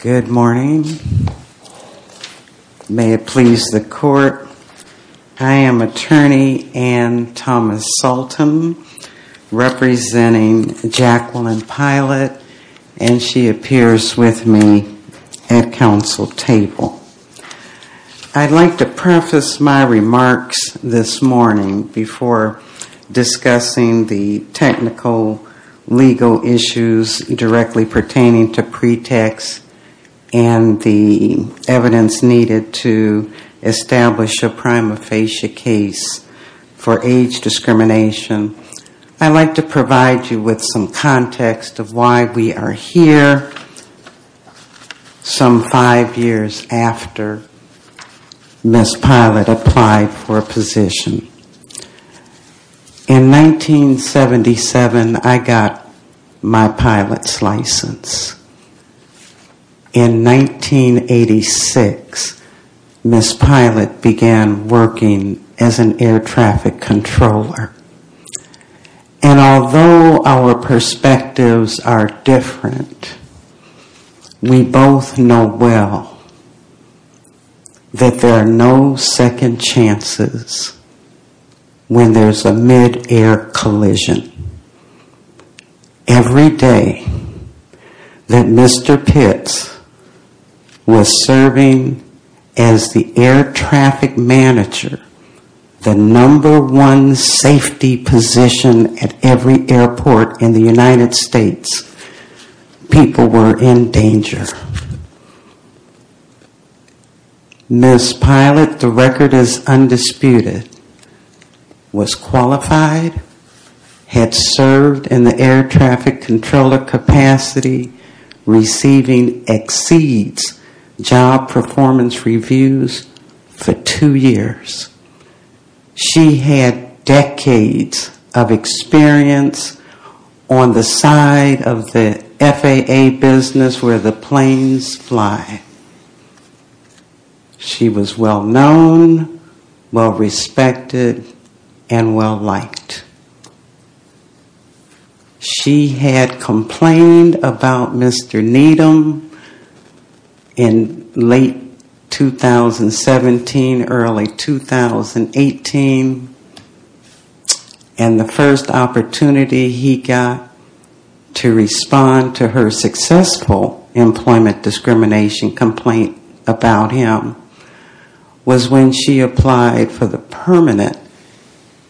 Good morning. May it please the court, I am Attorney Anne Thomas-Saltom representing Jacqueline Pilot and she appears with me at council table. I would like to preface my remarks this morning before discussing the technical legal issues directly pertaining to pretext and the evidence needed to establish a prima facie case for age discrimination. I would like to provide you with some context of why we are here some five years after Ms. Pilot applied for a position. In 1977, I got my pilot's license. In 1986, Ms. Pilot began working as an air traffic controller. And although our perspectives are different, we both know well that there are no second chances when there is a mid-air collision. Every day that Mr. Pitts was serving as the air traffic manager, the number one safety position at every airport in the United States, people were in danger. Ms. Pilot, the record is undisputed, was qualified, had served in the air traffic controller capacity, receiving exceeds job performance reviews for two years. She had decades of experience on the side of the FAA business where the planes fly. She was well-known, well-respected, and well-liked. She had complained about Mr. Needham in late 2017, early 2018, and the first opportunity he got to respond to her successful employment discrimination complaint about him was when she applied for the permanent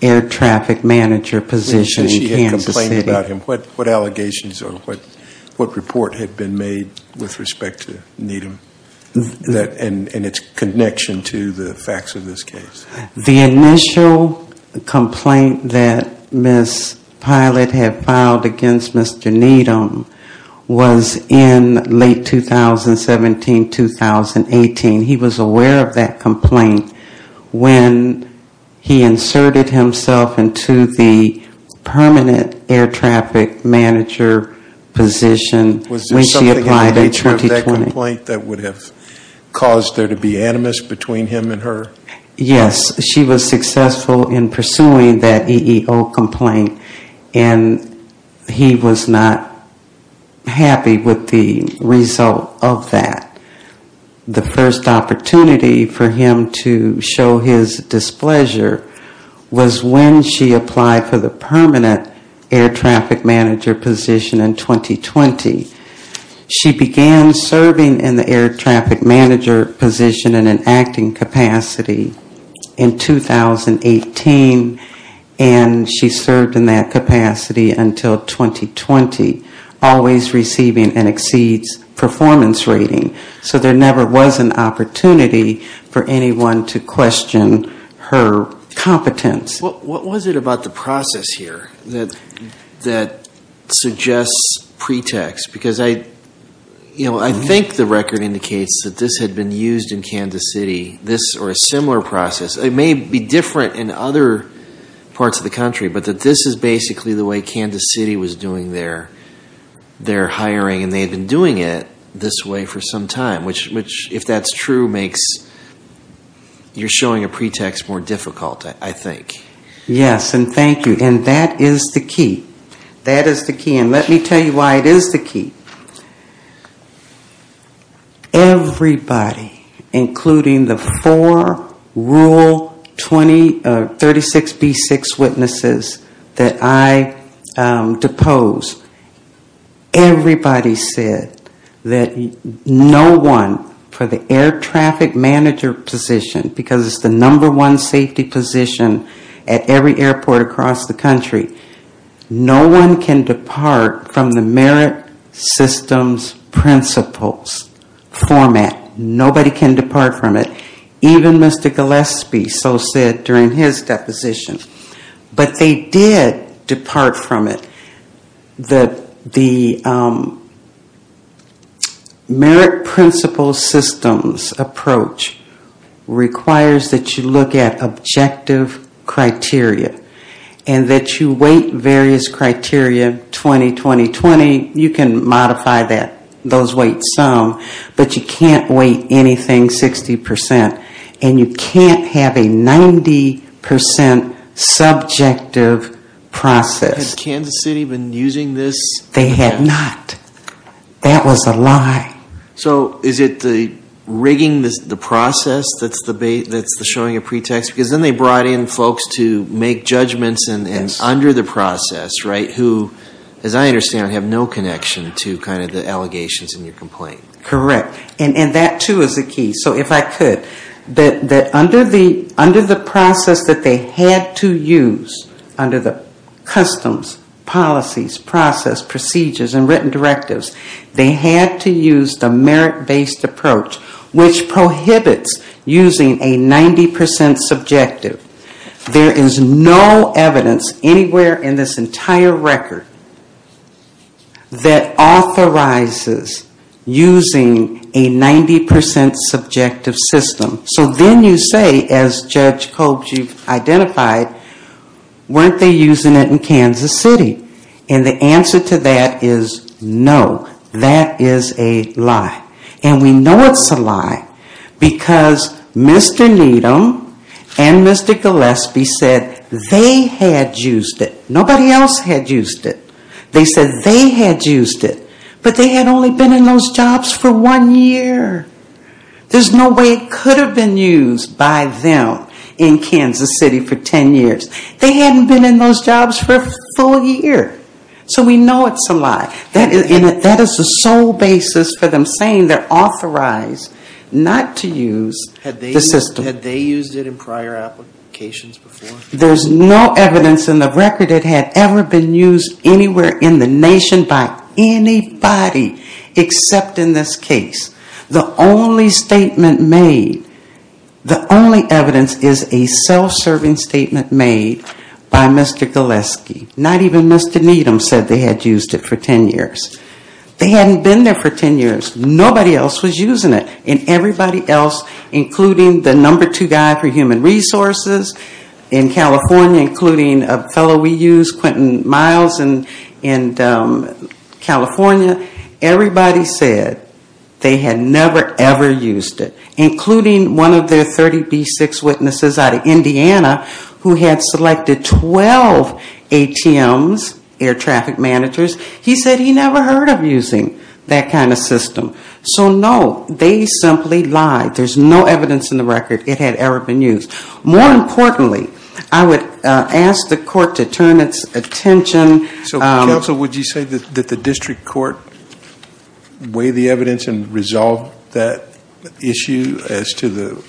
air traffic manager position in Kansas City. So she had complained about him. What allegations or what report had been made with respect to Needham and its connection to the facts of this case? The initial complaint that Ms. Pilot had filed against Mr. Needham was in late 2017, 2018. He was aware of that complaint when he inserted himself into the permanent air traffic manager position when she applied in 2020. Was there something in the nature of that complaint that would have caused there to be animus between him and her? Yes. She was successful in pursuing that EEO complaint, and he was not happy with the result of that. The first opportunity for him to show his displeasure was when she applied for the permanent air traffic manager position in 2020. She began serving in the air traffic manager position in an acting capacity in 2018, and she served in that capacity until 2020, always receiving an exceeds performance rating. So there never was an opportunity for anyone to question her competence. What was it about the process here that suggests pretext? Because I think the record indicates that this had been used in Kansas City, or a similar process. It may be different in other parts of the country, but that this is basically the way Kansas City was doing their hiring, and they had been doing it this way for some time. Which, if that's true, makes your showing a pretext more difficult, I think. Yes, and thank you. And that is the key. That is the key. And let me tell you why it is the key. Everybody, including the four rule 36B6 witnesses that I depose, everybody said that no one, for the air traffic manager position, because it's the number one safety position at every airport across the country, no one can depart from the merit systems principles format. Nobody can depart from it. Even Mr. Gillespie so said during his deposition. But they did depart from it. The merit principles systems approach requires that you look at objective criteria, and that you weight various criteria, 20, 20, 20. You can modify those weights some, but you can't weight anything 60%. And you can't have a 90% subjective process. Had Kansas City been using this? They had not. That was a lie. So is it the rigging the process that's the showing a pretext? Because then they brought in folks to make judgments under the process, right? Who, as I understand, have no connection to kind of the allegations in your complaint. Correct. And that too is the key. So if I could, that under the process that they had to use, under the customs, policies, process, procedures, and written directives, they had to use the merit-based approach, which prohibits using a 90% subjective. There is no evidence anywhere in this entire record that authorizes using a 90% subjective system. So then you say, as Judge Kolb, you've identified, weren't they using it in Kansas City? And the answer to that is no. That is a lie. And we know it's a lie because Mr. Needham and Mr. Gillespie said they had used it. Nobody else had used it. They said they had used it. But they had only been in those jobs for one year. There's no way it could have been used by them in Kansas City for 10 years. They hadn't been in those jobs for a full year. So we know it's a lie. That is the sole basis for them saying they're authorized not to use the system. Had they used it in prior applications before? There's no evidence in the record it had ever been used anywhere in the nation by anybody except in this case. The only statement made, the only evidence is a self-serving statement made by Mr. Gillespie. Not even Mr. Needham said they had used it for 10 years. They hadn't been there for 10 years. Nobody else was using it. And everybody else, including the number two guy for human resources in California, including a fellow we use, Quentin Miles in California, everybody said they had never, ever used it. Including one of their 30B6 witnesses out of Indiana who had selected 12 ATMs, air traffic managers, he said he never heard of using that kind of system. So no, they simply lied. There's no evidence in the record it had ever been used. More importantly, I would ask the court to turn its attention. So counsel, would you say that the district court weighed the evidence and resolved that issue as to the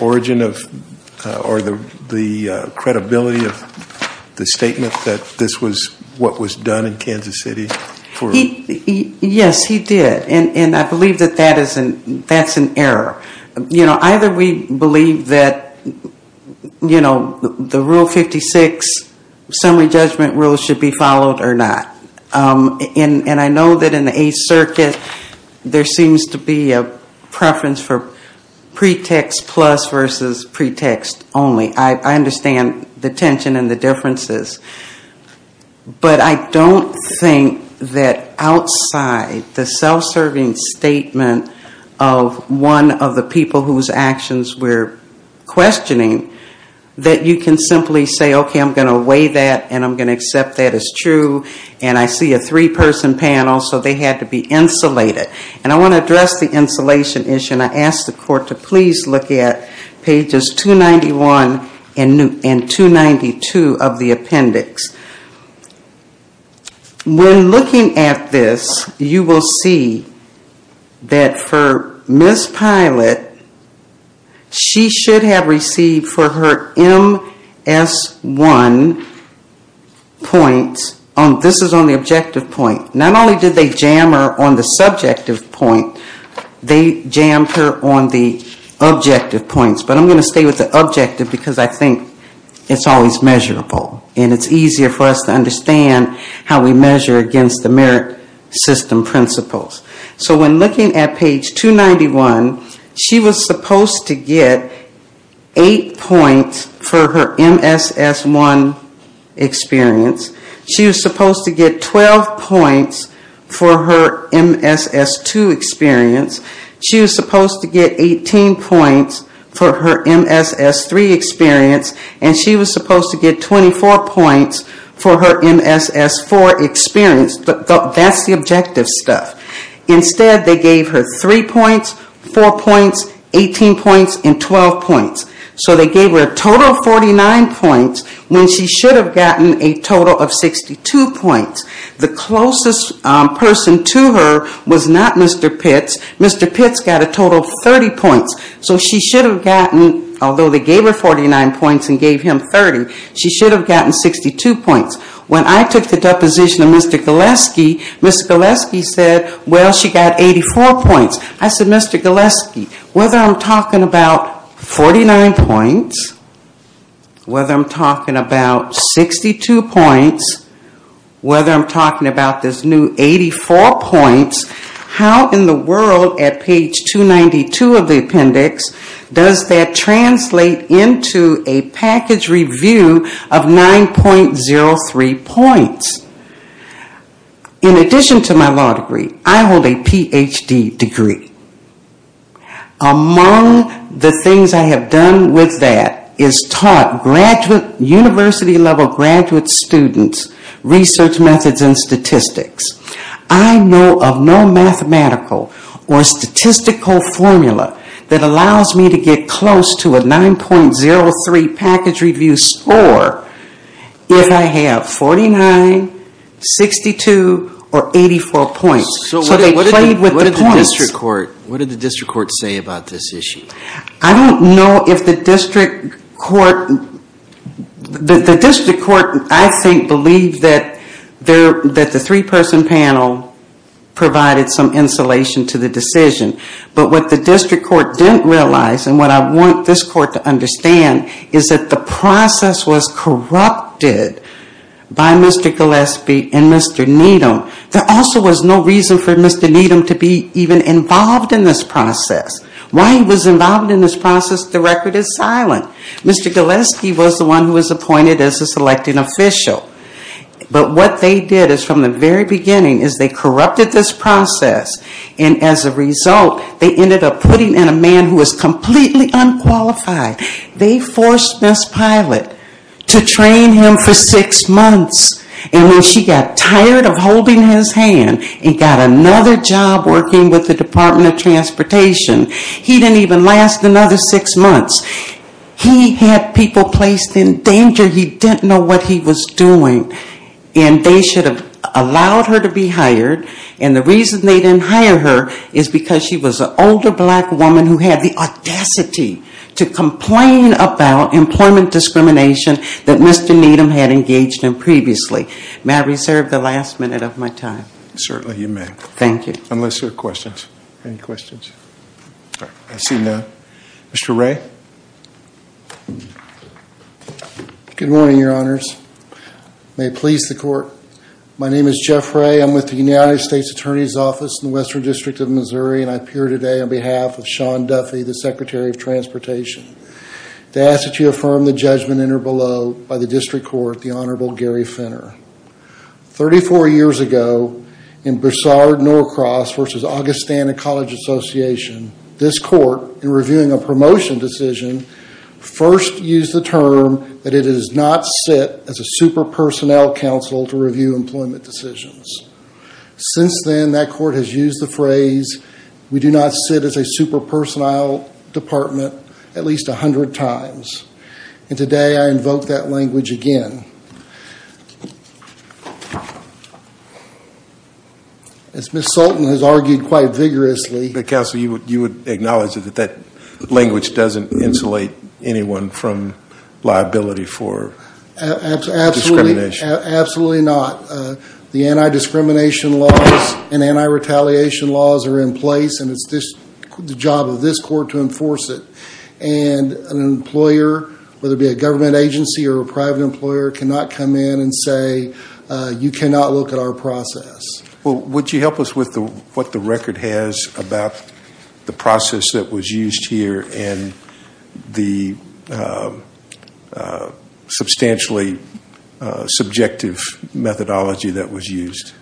origin of, or the credibility of the statement that this was what was done in Kansas City? Yes, he did. And I believe that that's an error. You know, either we believe that, you know, the Rule 56 summary judgment rules should be followed or not. And I know that in the Eighth Circuit, there seems to be a preference for pretext plus versus pretext only. I understand the tension and the differences. But I don't think that outside the self-serving statement of one of the people whose actions we're questioning, that you can simply say, okay, I'm going to weigh that and I'm going to accept that as true. And I see a three-person panel, so they had to be insulated. And I want to address the insulation issue, and I ask the court to please look at pages 291 and 292 of the appendix. When looking at this, you will see that for Ms. Pilot, she should have received for her MS1 points, this is on the objective point, not only did they jam her on the subjective point, they jammed her on the objective points. But I'm going to stay with the objective because I think it's always measurable. And it's easier for us to understand how we measure against the merit system principles. So when looking at page 291, she was supposed to get 8 points for her MSS1 experience. She was supposed to get 12 points for her MSS2 experience. She was supposed to get 18 points for her MSS3 experience. And she was supposed to get 24 points for her MSS4 experience. That's the objective stuff. Instead, they gave her 3 points, 4 points, 18 points, and 12 points. So they gave her a total of 49 points when she should have gotten a total of 62 points. The closest person to her was not Mr. Pitts. Mr. Pitts got a total of 30 points. So she should have gotten, although they gave her 49 points and gave him 30, she should have gotten 62 points. When I took the deposition of Mr. Galeski, Mr. Galeski said, well, she got 84 points. I said, Mr. Galeski, whether I'm talking about 49 points, whether I'm talking about 62 points, whether I'm talking about this new 84 points, how in the world at page 292 of the appendix does that translate into a package review of 9.03 points? In addition to my law degree, I hold a Ph.D. degree. Among the things I have done with that is taught university-level graduate students research methods and statistics. I know of no mathematical or statistical formula that allows me to get close to a 9.03 package review score if I have 49, 62, or 84 points. So they played with the points. What did the district court say about this issue? I don't know if the district court, the district court I think believed that the three-person panel provided some insulation to the decision. But what the district court didn't realize, and what I want this court to understand, is that the process was corrupted by Mr. Galeski and Mr. Needham. There also was no reason for Mr. Needham to be even involved in this process. While he was involved in this process, the record is silent. Mr. Galeski was the one who was appointed as the selecting official. But what they did is from the very beginning is they corrupted this process and as a result they ended up putting in a man who was completely unqualified. They forced Ms. Pilot to train him for six months. And when she got tired of holding his hand and got another job working with the Department of Transportation he didn't even last another six months. He had people placed in danger. He didn't know what he was doing. And they should have allowed her to be hired. And the reason they didn't hire her is because she was an older black woman who had the audacity to complain about employment discrimination that Mr. Needham had engaged in previously. May I reserve the last minute of my time? Certainly you may. Thank you. Unless there are questions. Any questions? I see none. Mr. Ray? Good morning, Your Honors. May it please the Court. My name is Jeff Ray. I'm with the United States Attorney's Office in the Western District of Missouri and I appear today on behalf of Sean Duffy, the Secretary of Transportation, to ask that you affirm the judgment in or below by the District Court, the Honorable Gary Finner. Thirty-four years ago, in Broussard Norcross v. Augustana College Association, this Court, in reviewing a promotion decision, first used the term that it does not sit as a super-personnel council to review employment decisions. Since then, that Court has used the phrase, we do not sit as a super-personnel department at least a hundred times. And today I invoke that language again. As Ms. Sultan has argued quite vigorously. Counsel, you would acknowledge that that language doesn't insulate anyone from liability for discrimination? Absolutely not. The anti-discrimination laws and anti-retaliation laws are in place and it's the job of this Court to enforce it. And an employer, whether it be a government agency or a private employer, cannot come in and say, you cannot look at our process. Well, would you help us with what the record has about the process that was used here and the substantially subjective methodology that was used?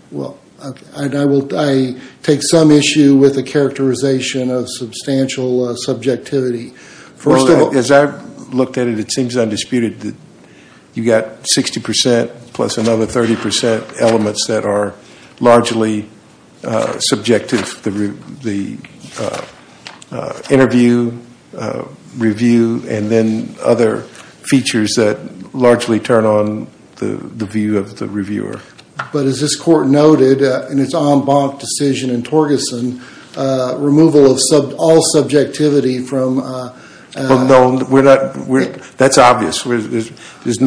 I take some issue with the characterization of substantial subjectivity. As I've looked at it, it seems undisputed that you've got 60% plus another 30% elements that are largely subjective. The interview, review, and then other features that largely turn on the view of the reviewer. But as this Court noted in its en banc decision in Torgerson, removal of all subjectivity from No, that's obvious. There's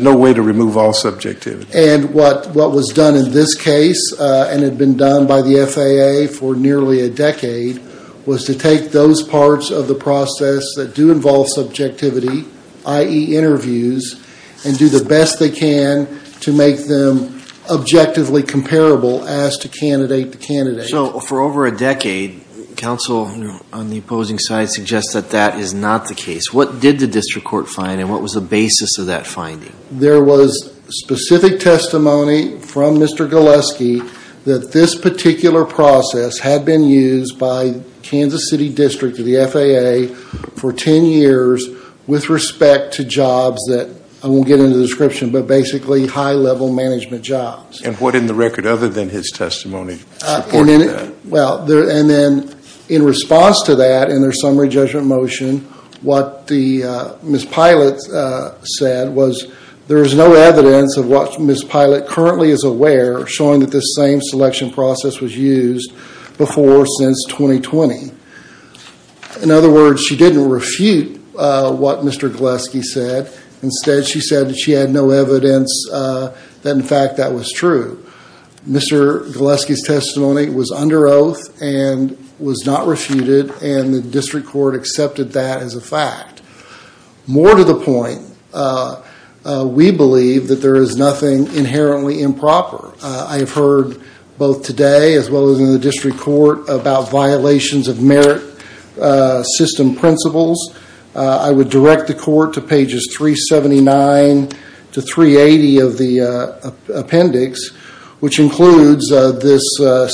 no way to remove all subjectivity. And what was done in this case and had been done by the FAA for nearly a decade was to take those parts of the process that do involve subjectivity, i.e. interviews, and do the best they can to make them objectively comparable as to candidate to candidate. So for over a decade, counsel on the opposing side suggests that that is not the case. What did the district court find and what was the basis of that finding? There was specific testimony from Mr. Galeski that this particular process had been used by I won't get into the description, but basically high-level management jobs. And what in the record other than his testimony supports that? Well, and then in response to that in their summary judgment motion, what Ms. Pilot said was there is no evidence of what Ms. Pilot currently is aware showing that this same selection process was used before or since 2020. In other words, she didn't refute what Mr. Galeski said. Instead, she said that she had no evidence that in fact that was true. Mr. Galeski's testimony was under oath and was not refuted and the district court accepted that as a fact. More to the point, we believe that there is nothing inherently improper. I have heard both today as well as in the district court about violations of merit system principles. I would direct the court to pages 379 to 380 of the appendix, which includes this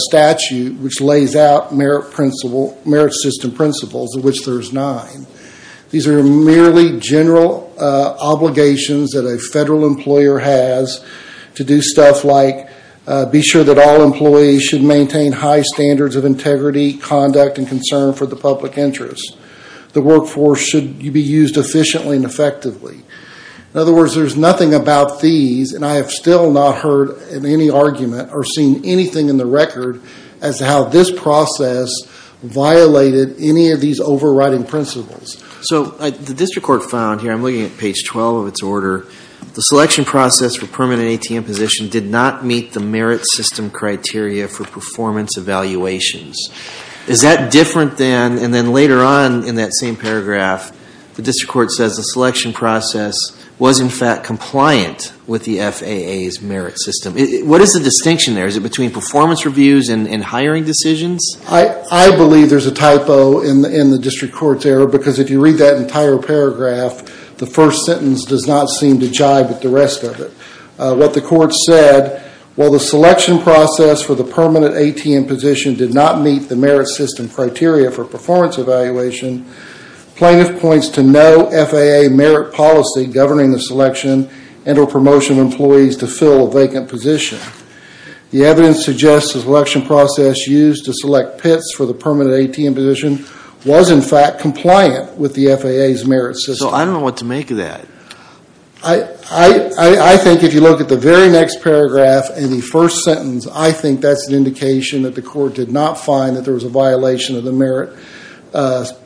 statute which lays out merit system principles, of which there's nine. These are merely general obligations that a federal employer has to do stuff like be sure that all employees should maintain high standards of integrity, conduct, and concern for the public interest. The workforce should be used efficiently and effectively. In other words, there's nothing about these, and I have still not heard in any argument or seen anything in the record as to how this process violated any of these overriding principles. So the district court found here, I'm looking at page 12 of its order, the selection process for permanent ATM position did not meet the merit system criteria for performance evaluations. Is that different than, and then later on in that same paragraph, the district court says the selection process was in fact compliant with the FAA's merit system. What is the distinction there? Is it between performance reviews and hiring decisions? I believe there's a typo in the district court there because if you read that entire paragraph, the first sentence does not seem to jibe at the rest of it. What the court said, while the selection process for the permanent ATM position did not meet the merit system criteria for performance evaluation, plaintiff points to no FAA merit policy governing the selection and or promotion of employees to fill a vacant position. The evidence suggests the selection process used to select pits for the permanent ATM position was in fact compliant with the FAA's merit system. So I don't know what to make of that. I think if you look at the very next paragraph in the first sentence, I think that's an indication that the court did not find that there was a violation of the merit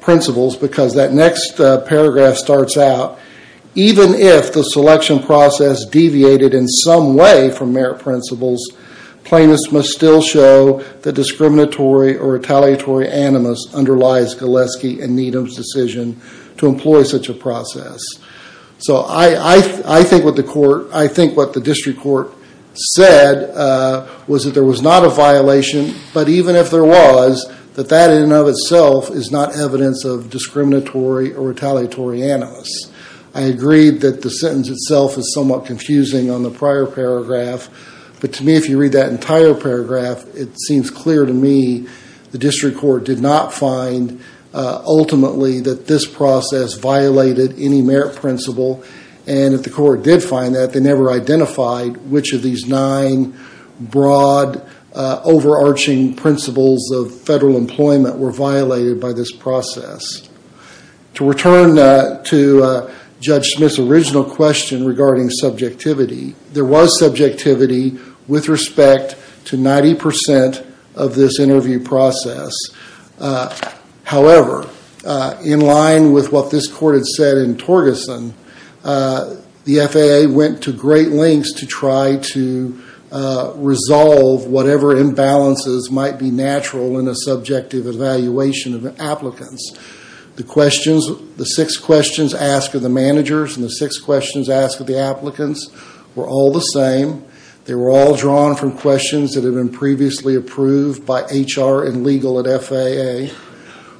principles because that next paragraph starts out, even if the selection process deviated in some way from merit principles, plaintiffs must still show that discriminatory or retaliatory animus underlies Gillespie and Needham's decision to employ such a process. So I think what the district court said was that there was not a violation, but even if there was, that that in and of itself is not evidence of discriminatory or retaliatory animus. I agree that the sentence itself is somewhat confusing on the prior paragraph, but to me if you read that entire paragraph, it seems clear to me the district court did not find ultimately that this process violated any merit principle, and if the court did find that, they never identified which of these nine broad overarching principles of federal employment were violated by this process. To return to Judge Smith's original question regarding subjectivity, there was subjectivity with respect to 90% of this interview process. However, in line with what this court had said in Torgeson, the FAA went to great lengths to try to resolve whatever imbalances might be natural in a subjective evaluation of applicants. The six questions asked of the managers and the six questions asked of the applicants were all the same. They were all drawn from questions that had been previously approved by HR and legal at FAA.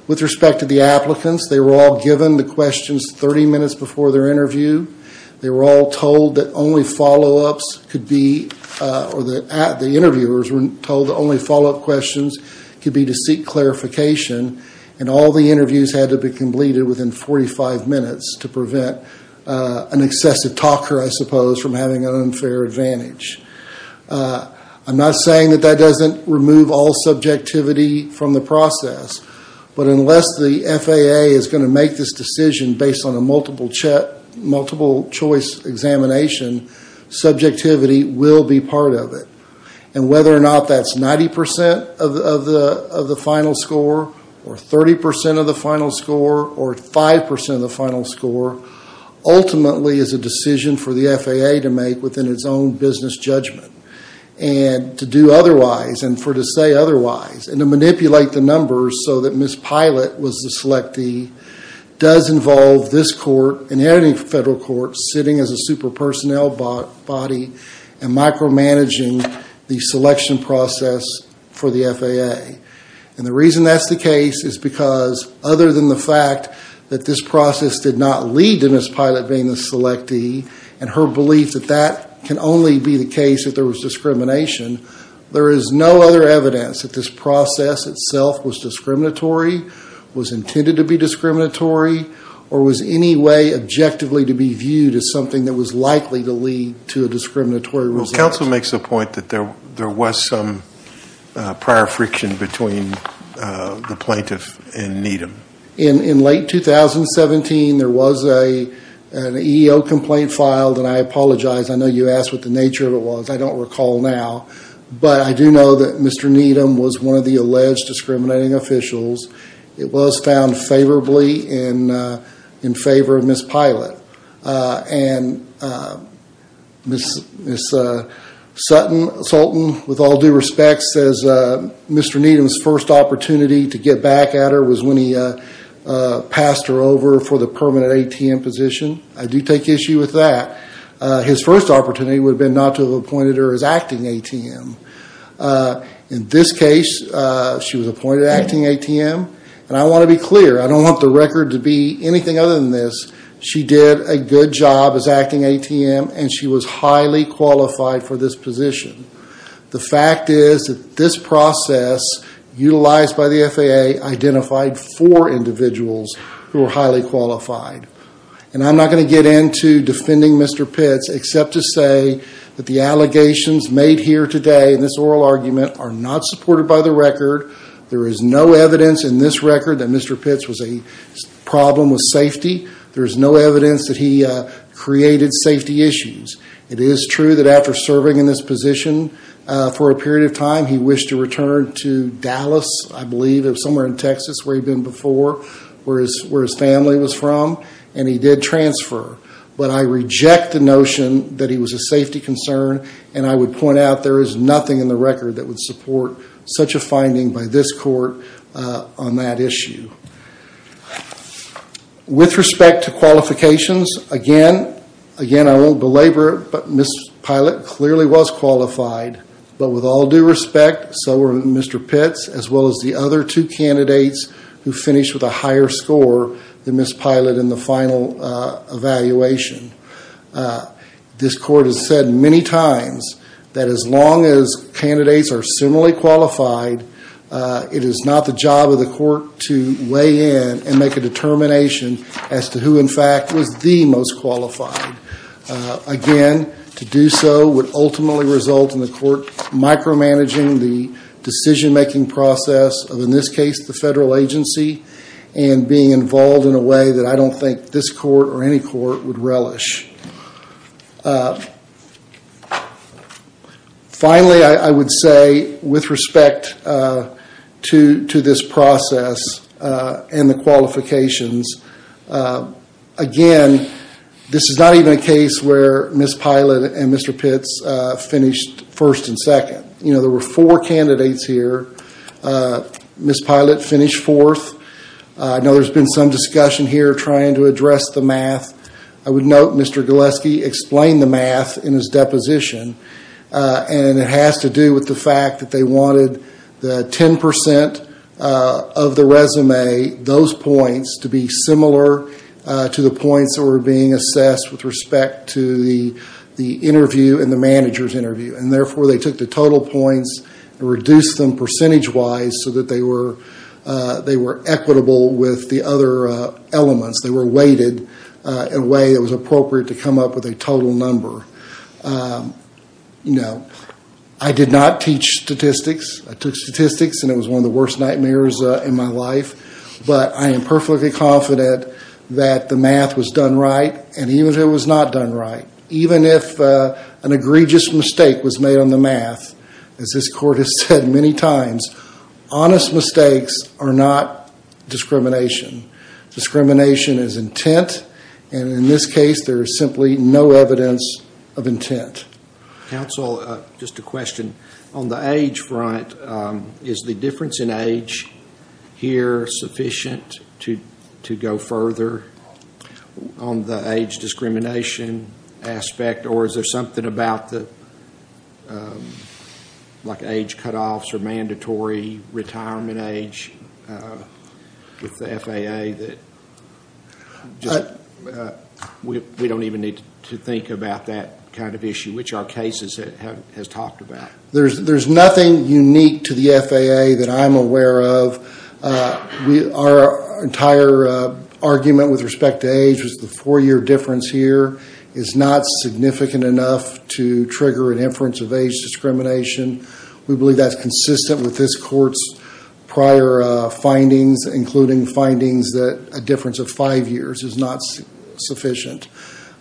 With respect to the applicants, they were all given the questions 30 minutes before their interview. They were all told that only follow-ups could be, or the interviewers were told that only follow-up questions could be to seek clarification, and all the interviews had to be completed within 45 minutes to prevent an excessive talker, I suppose, from having an unfair advantage. I'm not saying that that doesn't remove all subjectivity from the process, but unless the FAA is going to make this decision based on a multiple choice examination, subjectivity will be part of it. Whether or not that's 90% of the final score, or 30% of the final score, or 5% of the final score, ultimately is a decision for the FAA to make within its own business judgment. To do otherwise, and for it to say otherwise, and to manipulate the numbers so that Ms. Pilot was the selectee, does involve this court and any federal court sitting as a super-personnel body and micromanaging the selection process for the FAA. And the reason that's the case is because, other than the fact that this process did not lead to Ms. Pilot being the selectee, and her belief that that can only be the case if there was discrimination, there is no other evidence that this process itself was discriminatory, was intended to be discriminatory, or was any way objectively to be viewed as something that was likely to lead to a discriminatory result. Well, counsel makes the point that there was some prior friction between the plaintiff and Needham. In late 2017, there was an EEO complaint filed, and I apologize, I know you asked what the nature of it was, I don't recall now, but I do know that Mr. Needham was one of the alleged discriminating officials. It was found favorably in favor of Ms. Pilot. And Ms. Sutton, with all due respect, says Mr. Needham's first opportunity to get back at her was when he passed her over for the permanent ATM position. I do take issue with that. His first opportunity would have been not to have appointed her as acting ATM. In this case, she was appointed acting ATM, and I want to be clear, I don't want the record to be anything other than this. She did a good job as acting ATM, and she was highly qualified for this position. The fact is that this process, utilized by the FAA, identified four individuals who were highly qualified. And I'm not going to get into defending Mr. Pitts, except to say that the allegations made here today in this oral argument are not supported by the record. There is no evidence in this record that Mr. Pitts was a problem with safety. There is no evidence that he created safety issues. It is true that after serving in this position for a period of time, he wished to return to Dallas, I believe, somewhere in Texas where he'd been before, where his family was from. And he did transfer. But I reject the notion that he was a safety concern, and I would point out there is nothing in the record that would support such a finding by this court on that issue. With respect to qualifications, again, I won't belabor it, but Ms. Pilot clearly was qualified. But with all due respect, so were Mr. Pitts, as well as the other two candidates who finished with a higher score than Ms. Pilot in the final evaluation. This court has said many times that as long as candidates are similarly qualified, it is not the job of the court to weigh in and make a determination as to who, in fact, was the most qualified. Again, to do so would ultimately result in the court micromanaging the decision-making process of, in this case, the federal agency, and being involved in a way that I don't think this court or any court would relish. Finally, I would say, with respect to this process and the qualifications, again, this is not even a case where Ms. Pilot and Mr. Pitts finished first and second. There were four candidates here. Ms. Pilot finished fourth. I know there's been some discussion here trying to address the math. I would note Mr. Gillespie explained the math in his deposition, and it has to do with the fact that they wanted the 10% of the resume, those points, to be similar to the points that were being assessed with respect to the interview and the manager's interview. Therefore, they took the total points and reduced them percentage-wise so that they were equitable with the other elements. They were weighted in a way that was appropriate to come up with a total number. I did not teach statistics. I took statistics, and it was one of the worst nightmares in my life, but I am perfectly confident that the math was done right, and even if it was not done right, even if an egregious mistake was made on the math, as this court has said many times, honest mistakes are not discrimination. Discrimination is intent, and in this case there is simply no evidence of intent. Counsel, just a question. On the age front, is the difference in age here sufficient to go further on the age discrimination aspect, or is there something about the age cutoffs or mandatory retirement age with the FAA that we don't even need to think about that kind of issue, which our case has talked about? There's nothing unique to the FAA that I'm aware of. Our entire argument with respect to age was the four-year difference here is not significant enough to trigger an inference of age discrimination. We believe that's consistent with this court's prior findings, including findings that a difference of five years is not sufficient.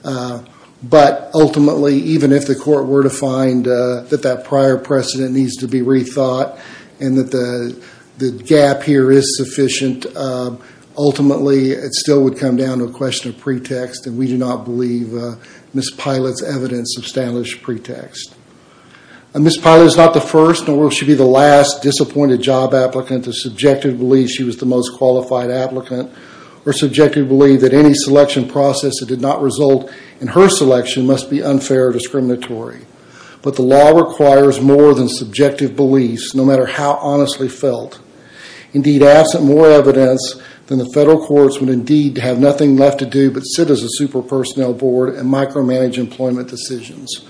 But ultimately, even if the court were to find that that prior precedent needs to be rethought, and that the gap here is sufficient, ultimately it still would come down to a question of pretext, and we do not believe Ms. Pilot's evidence established pretext. Ms. Pilot is not the first, nor will she be the last, disappointed job applicant to subjectively believe she was the most qualified applicant, or subjectively believe that any selection process that did not result in her selection must be unfair or discriminatory. But the law requires more than subjective beliefs, no matter how honestly felt. Indeed, absent more evidence than the federal courts would indeed have nothing left to do but sit as a super personnel board and micromanage employment decisions.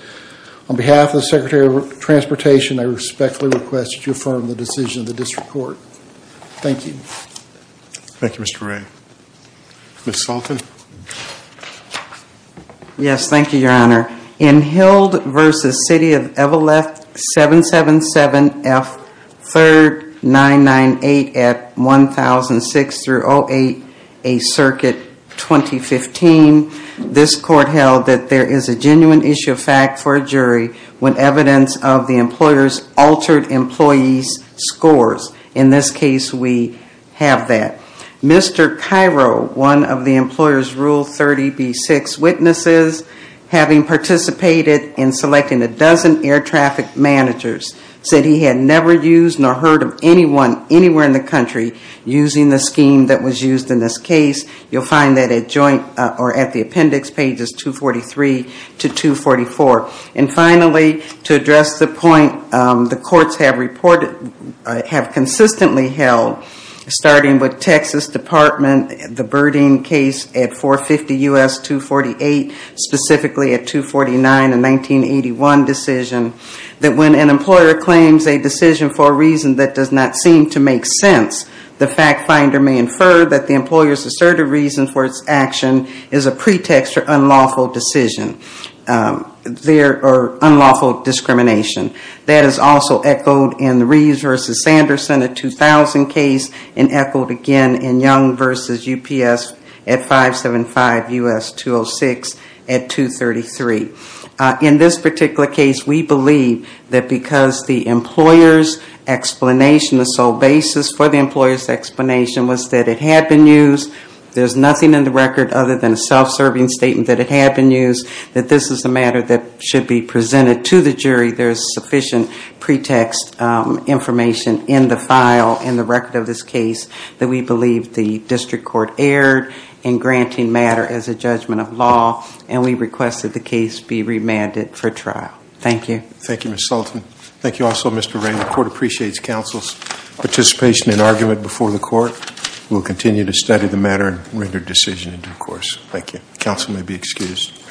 On behalf of the Secretary of Transportation, I respectfully request that you affirm the decision of the district court. Thank you. Thank you, Mr. Wray. Ms. Salton? Yes, thank you, Your Honor. In Hild v. City of Everleft 777-F-3998 at 1006-08, a circuit 2015, this court held that there is a genuine issue of fact for a jury when evidence of the employer's altered employee's scores. In this case, we have that. Mr. Cairo, one of the employer's Rule 30b-6 witnesses, having participated in selecting a dozen air traffic managers, said he had never used nor heard of anyone anywhere in the country using the scheme that was used in this case. You'll find that at the appendix pages 243 to 244. And finally, to address the point the courts have consistently held, starting with Texas Department, the Birding case at 450 U.S. 248, specifically at 249 and 1981 decision, that when an employer claims a decision for a reason that does not seem to make sense, the fact finder may infer that the employer's assertive reason for its action is a pretext for unlawful discrimination. That is also echoed in the Reeves v. Sanderson at 2000 case and echoed again in Young v. UPS at 575 U.S. 206 at 233. In this particular case, we believe that because the employer's explanation, the sole basis for the employer's explanation was that it had been used, there's nothing in the record other than a self-serving statement that it had been used, that this is a matter that should be presented to the jury. There's sufficient pretext information in the file, in the record of this case, that we believe the district court erred in granting matter as a judgment of law, and we request that the case be remanded for trial. Thank you. Thank you, Ms. Sultan. Thank you also, Mr. Ray. The court appreciates counsel's participation in argument before the court. We'll continue to study the matter and render decision in due course. Thank you. Counsel may be excused.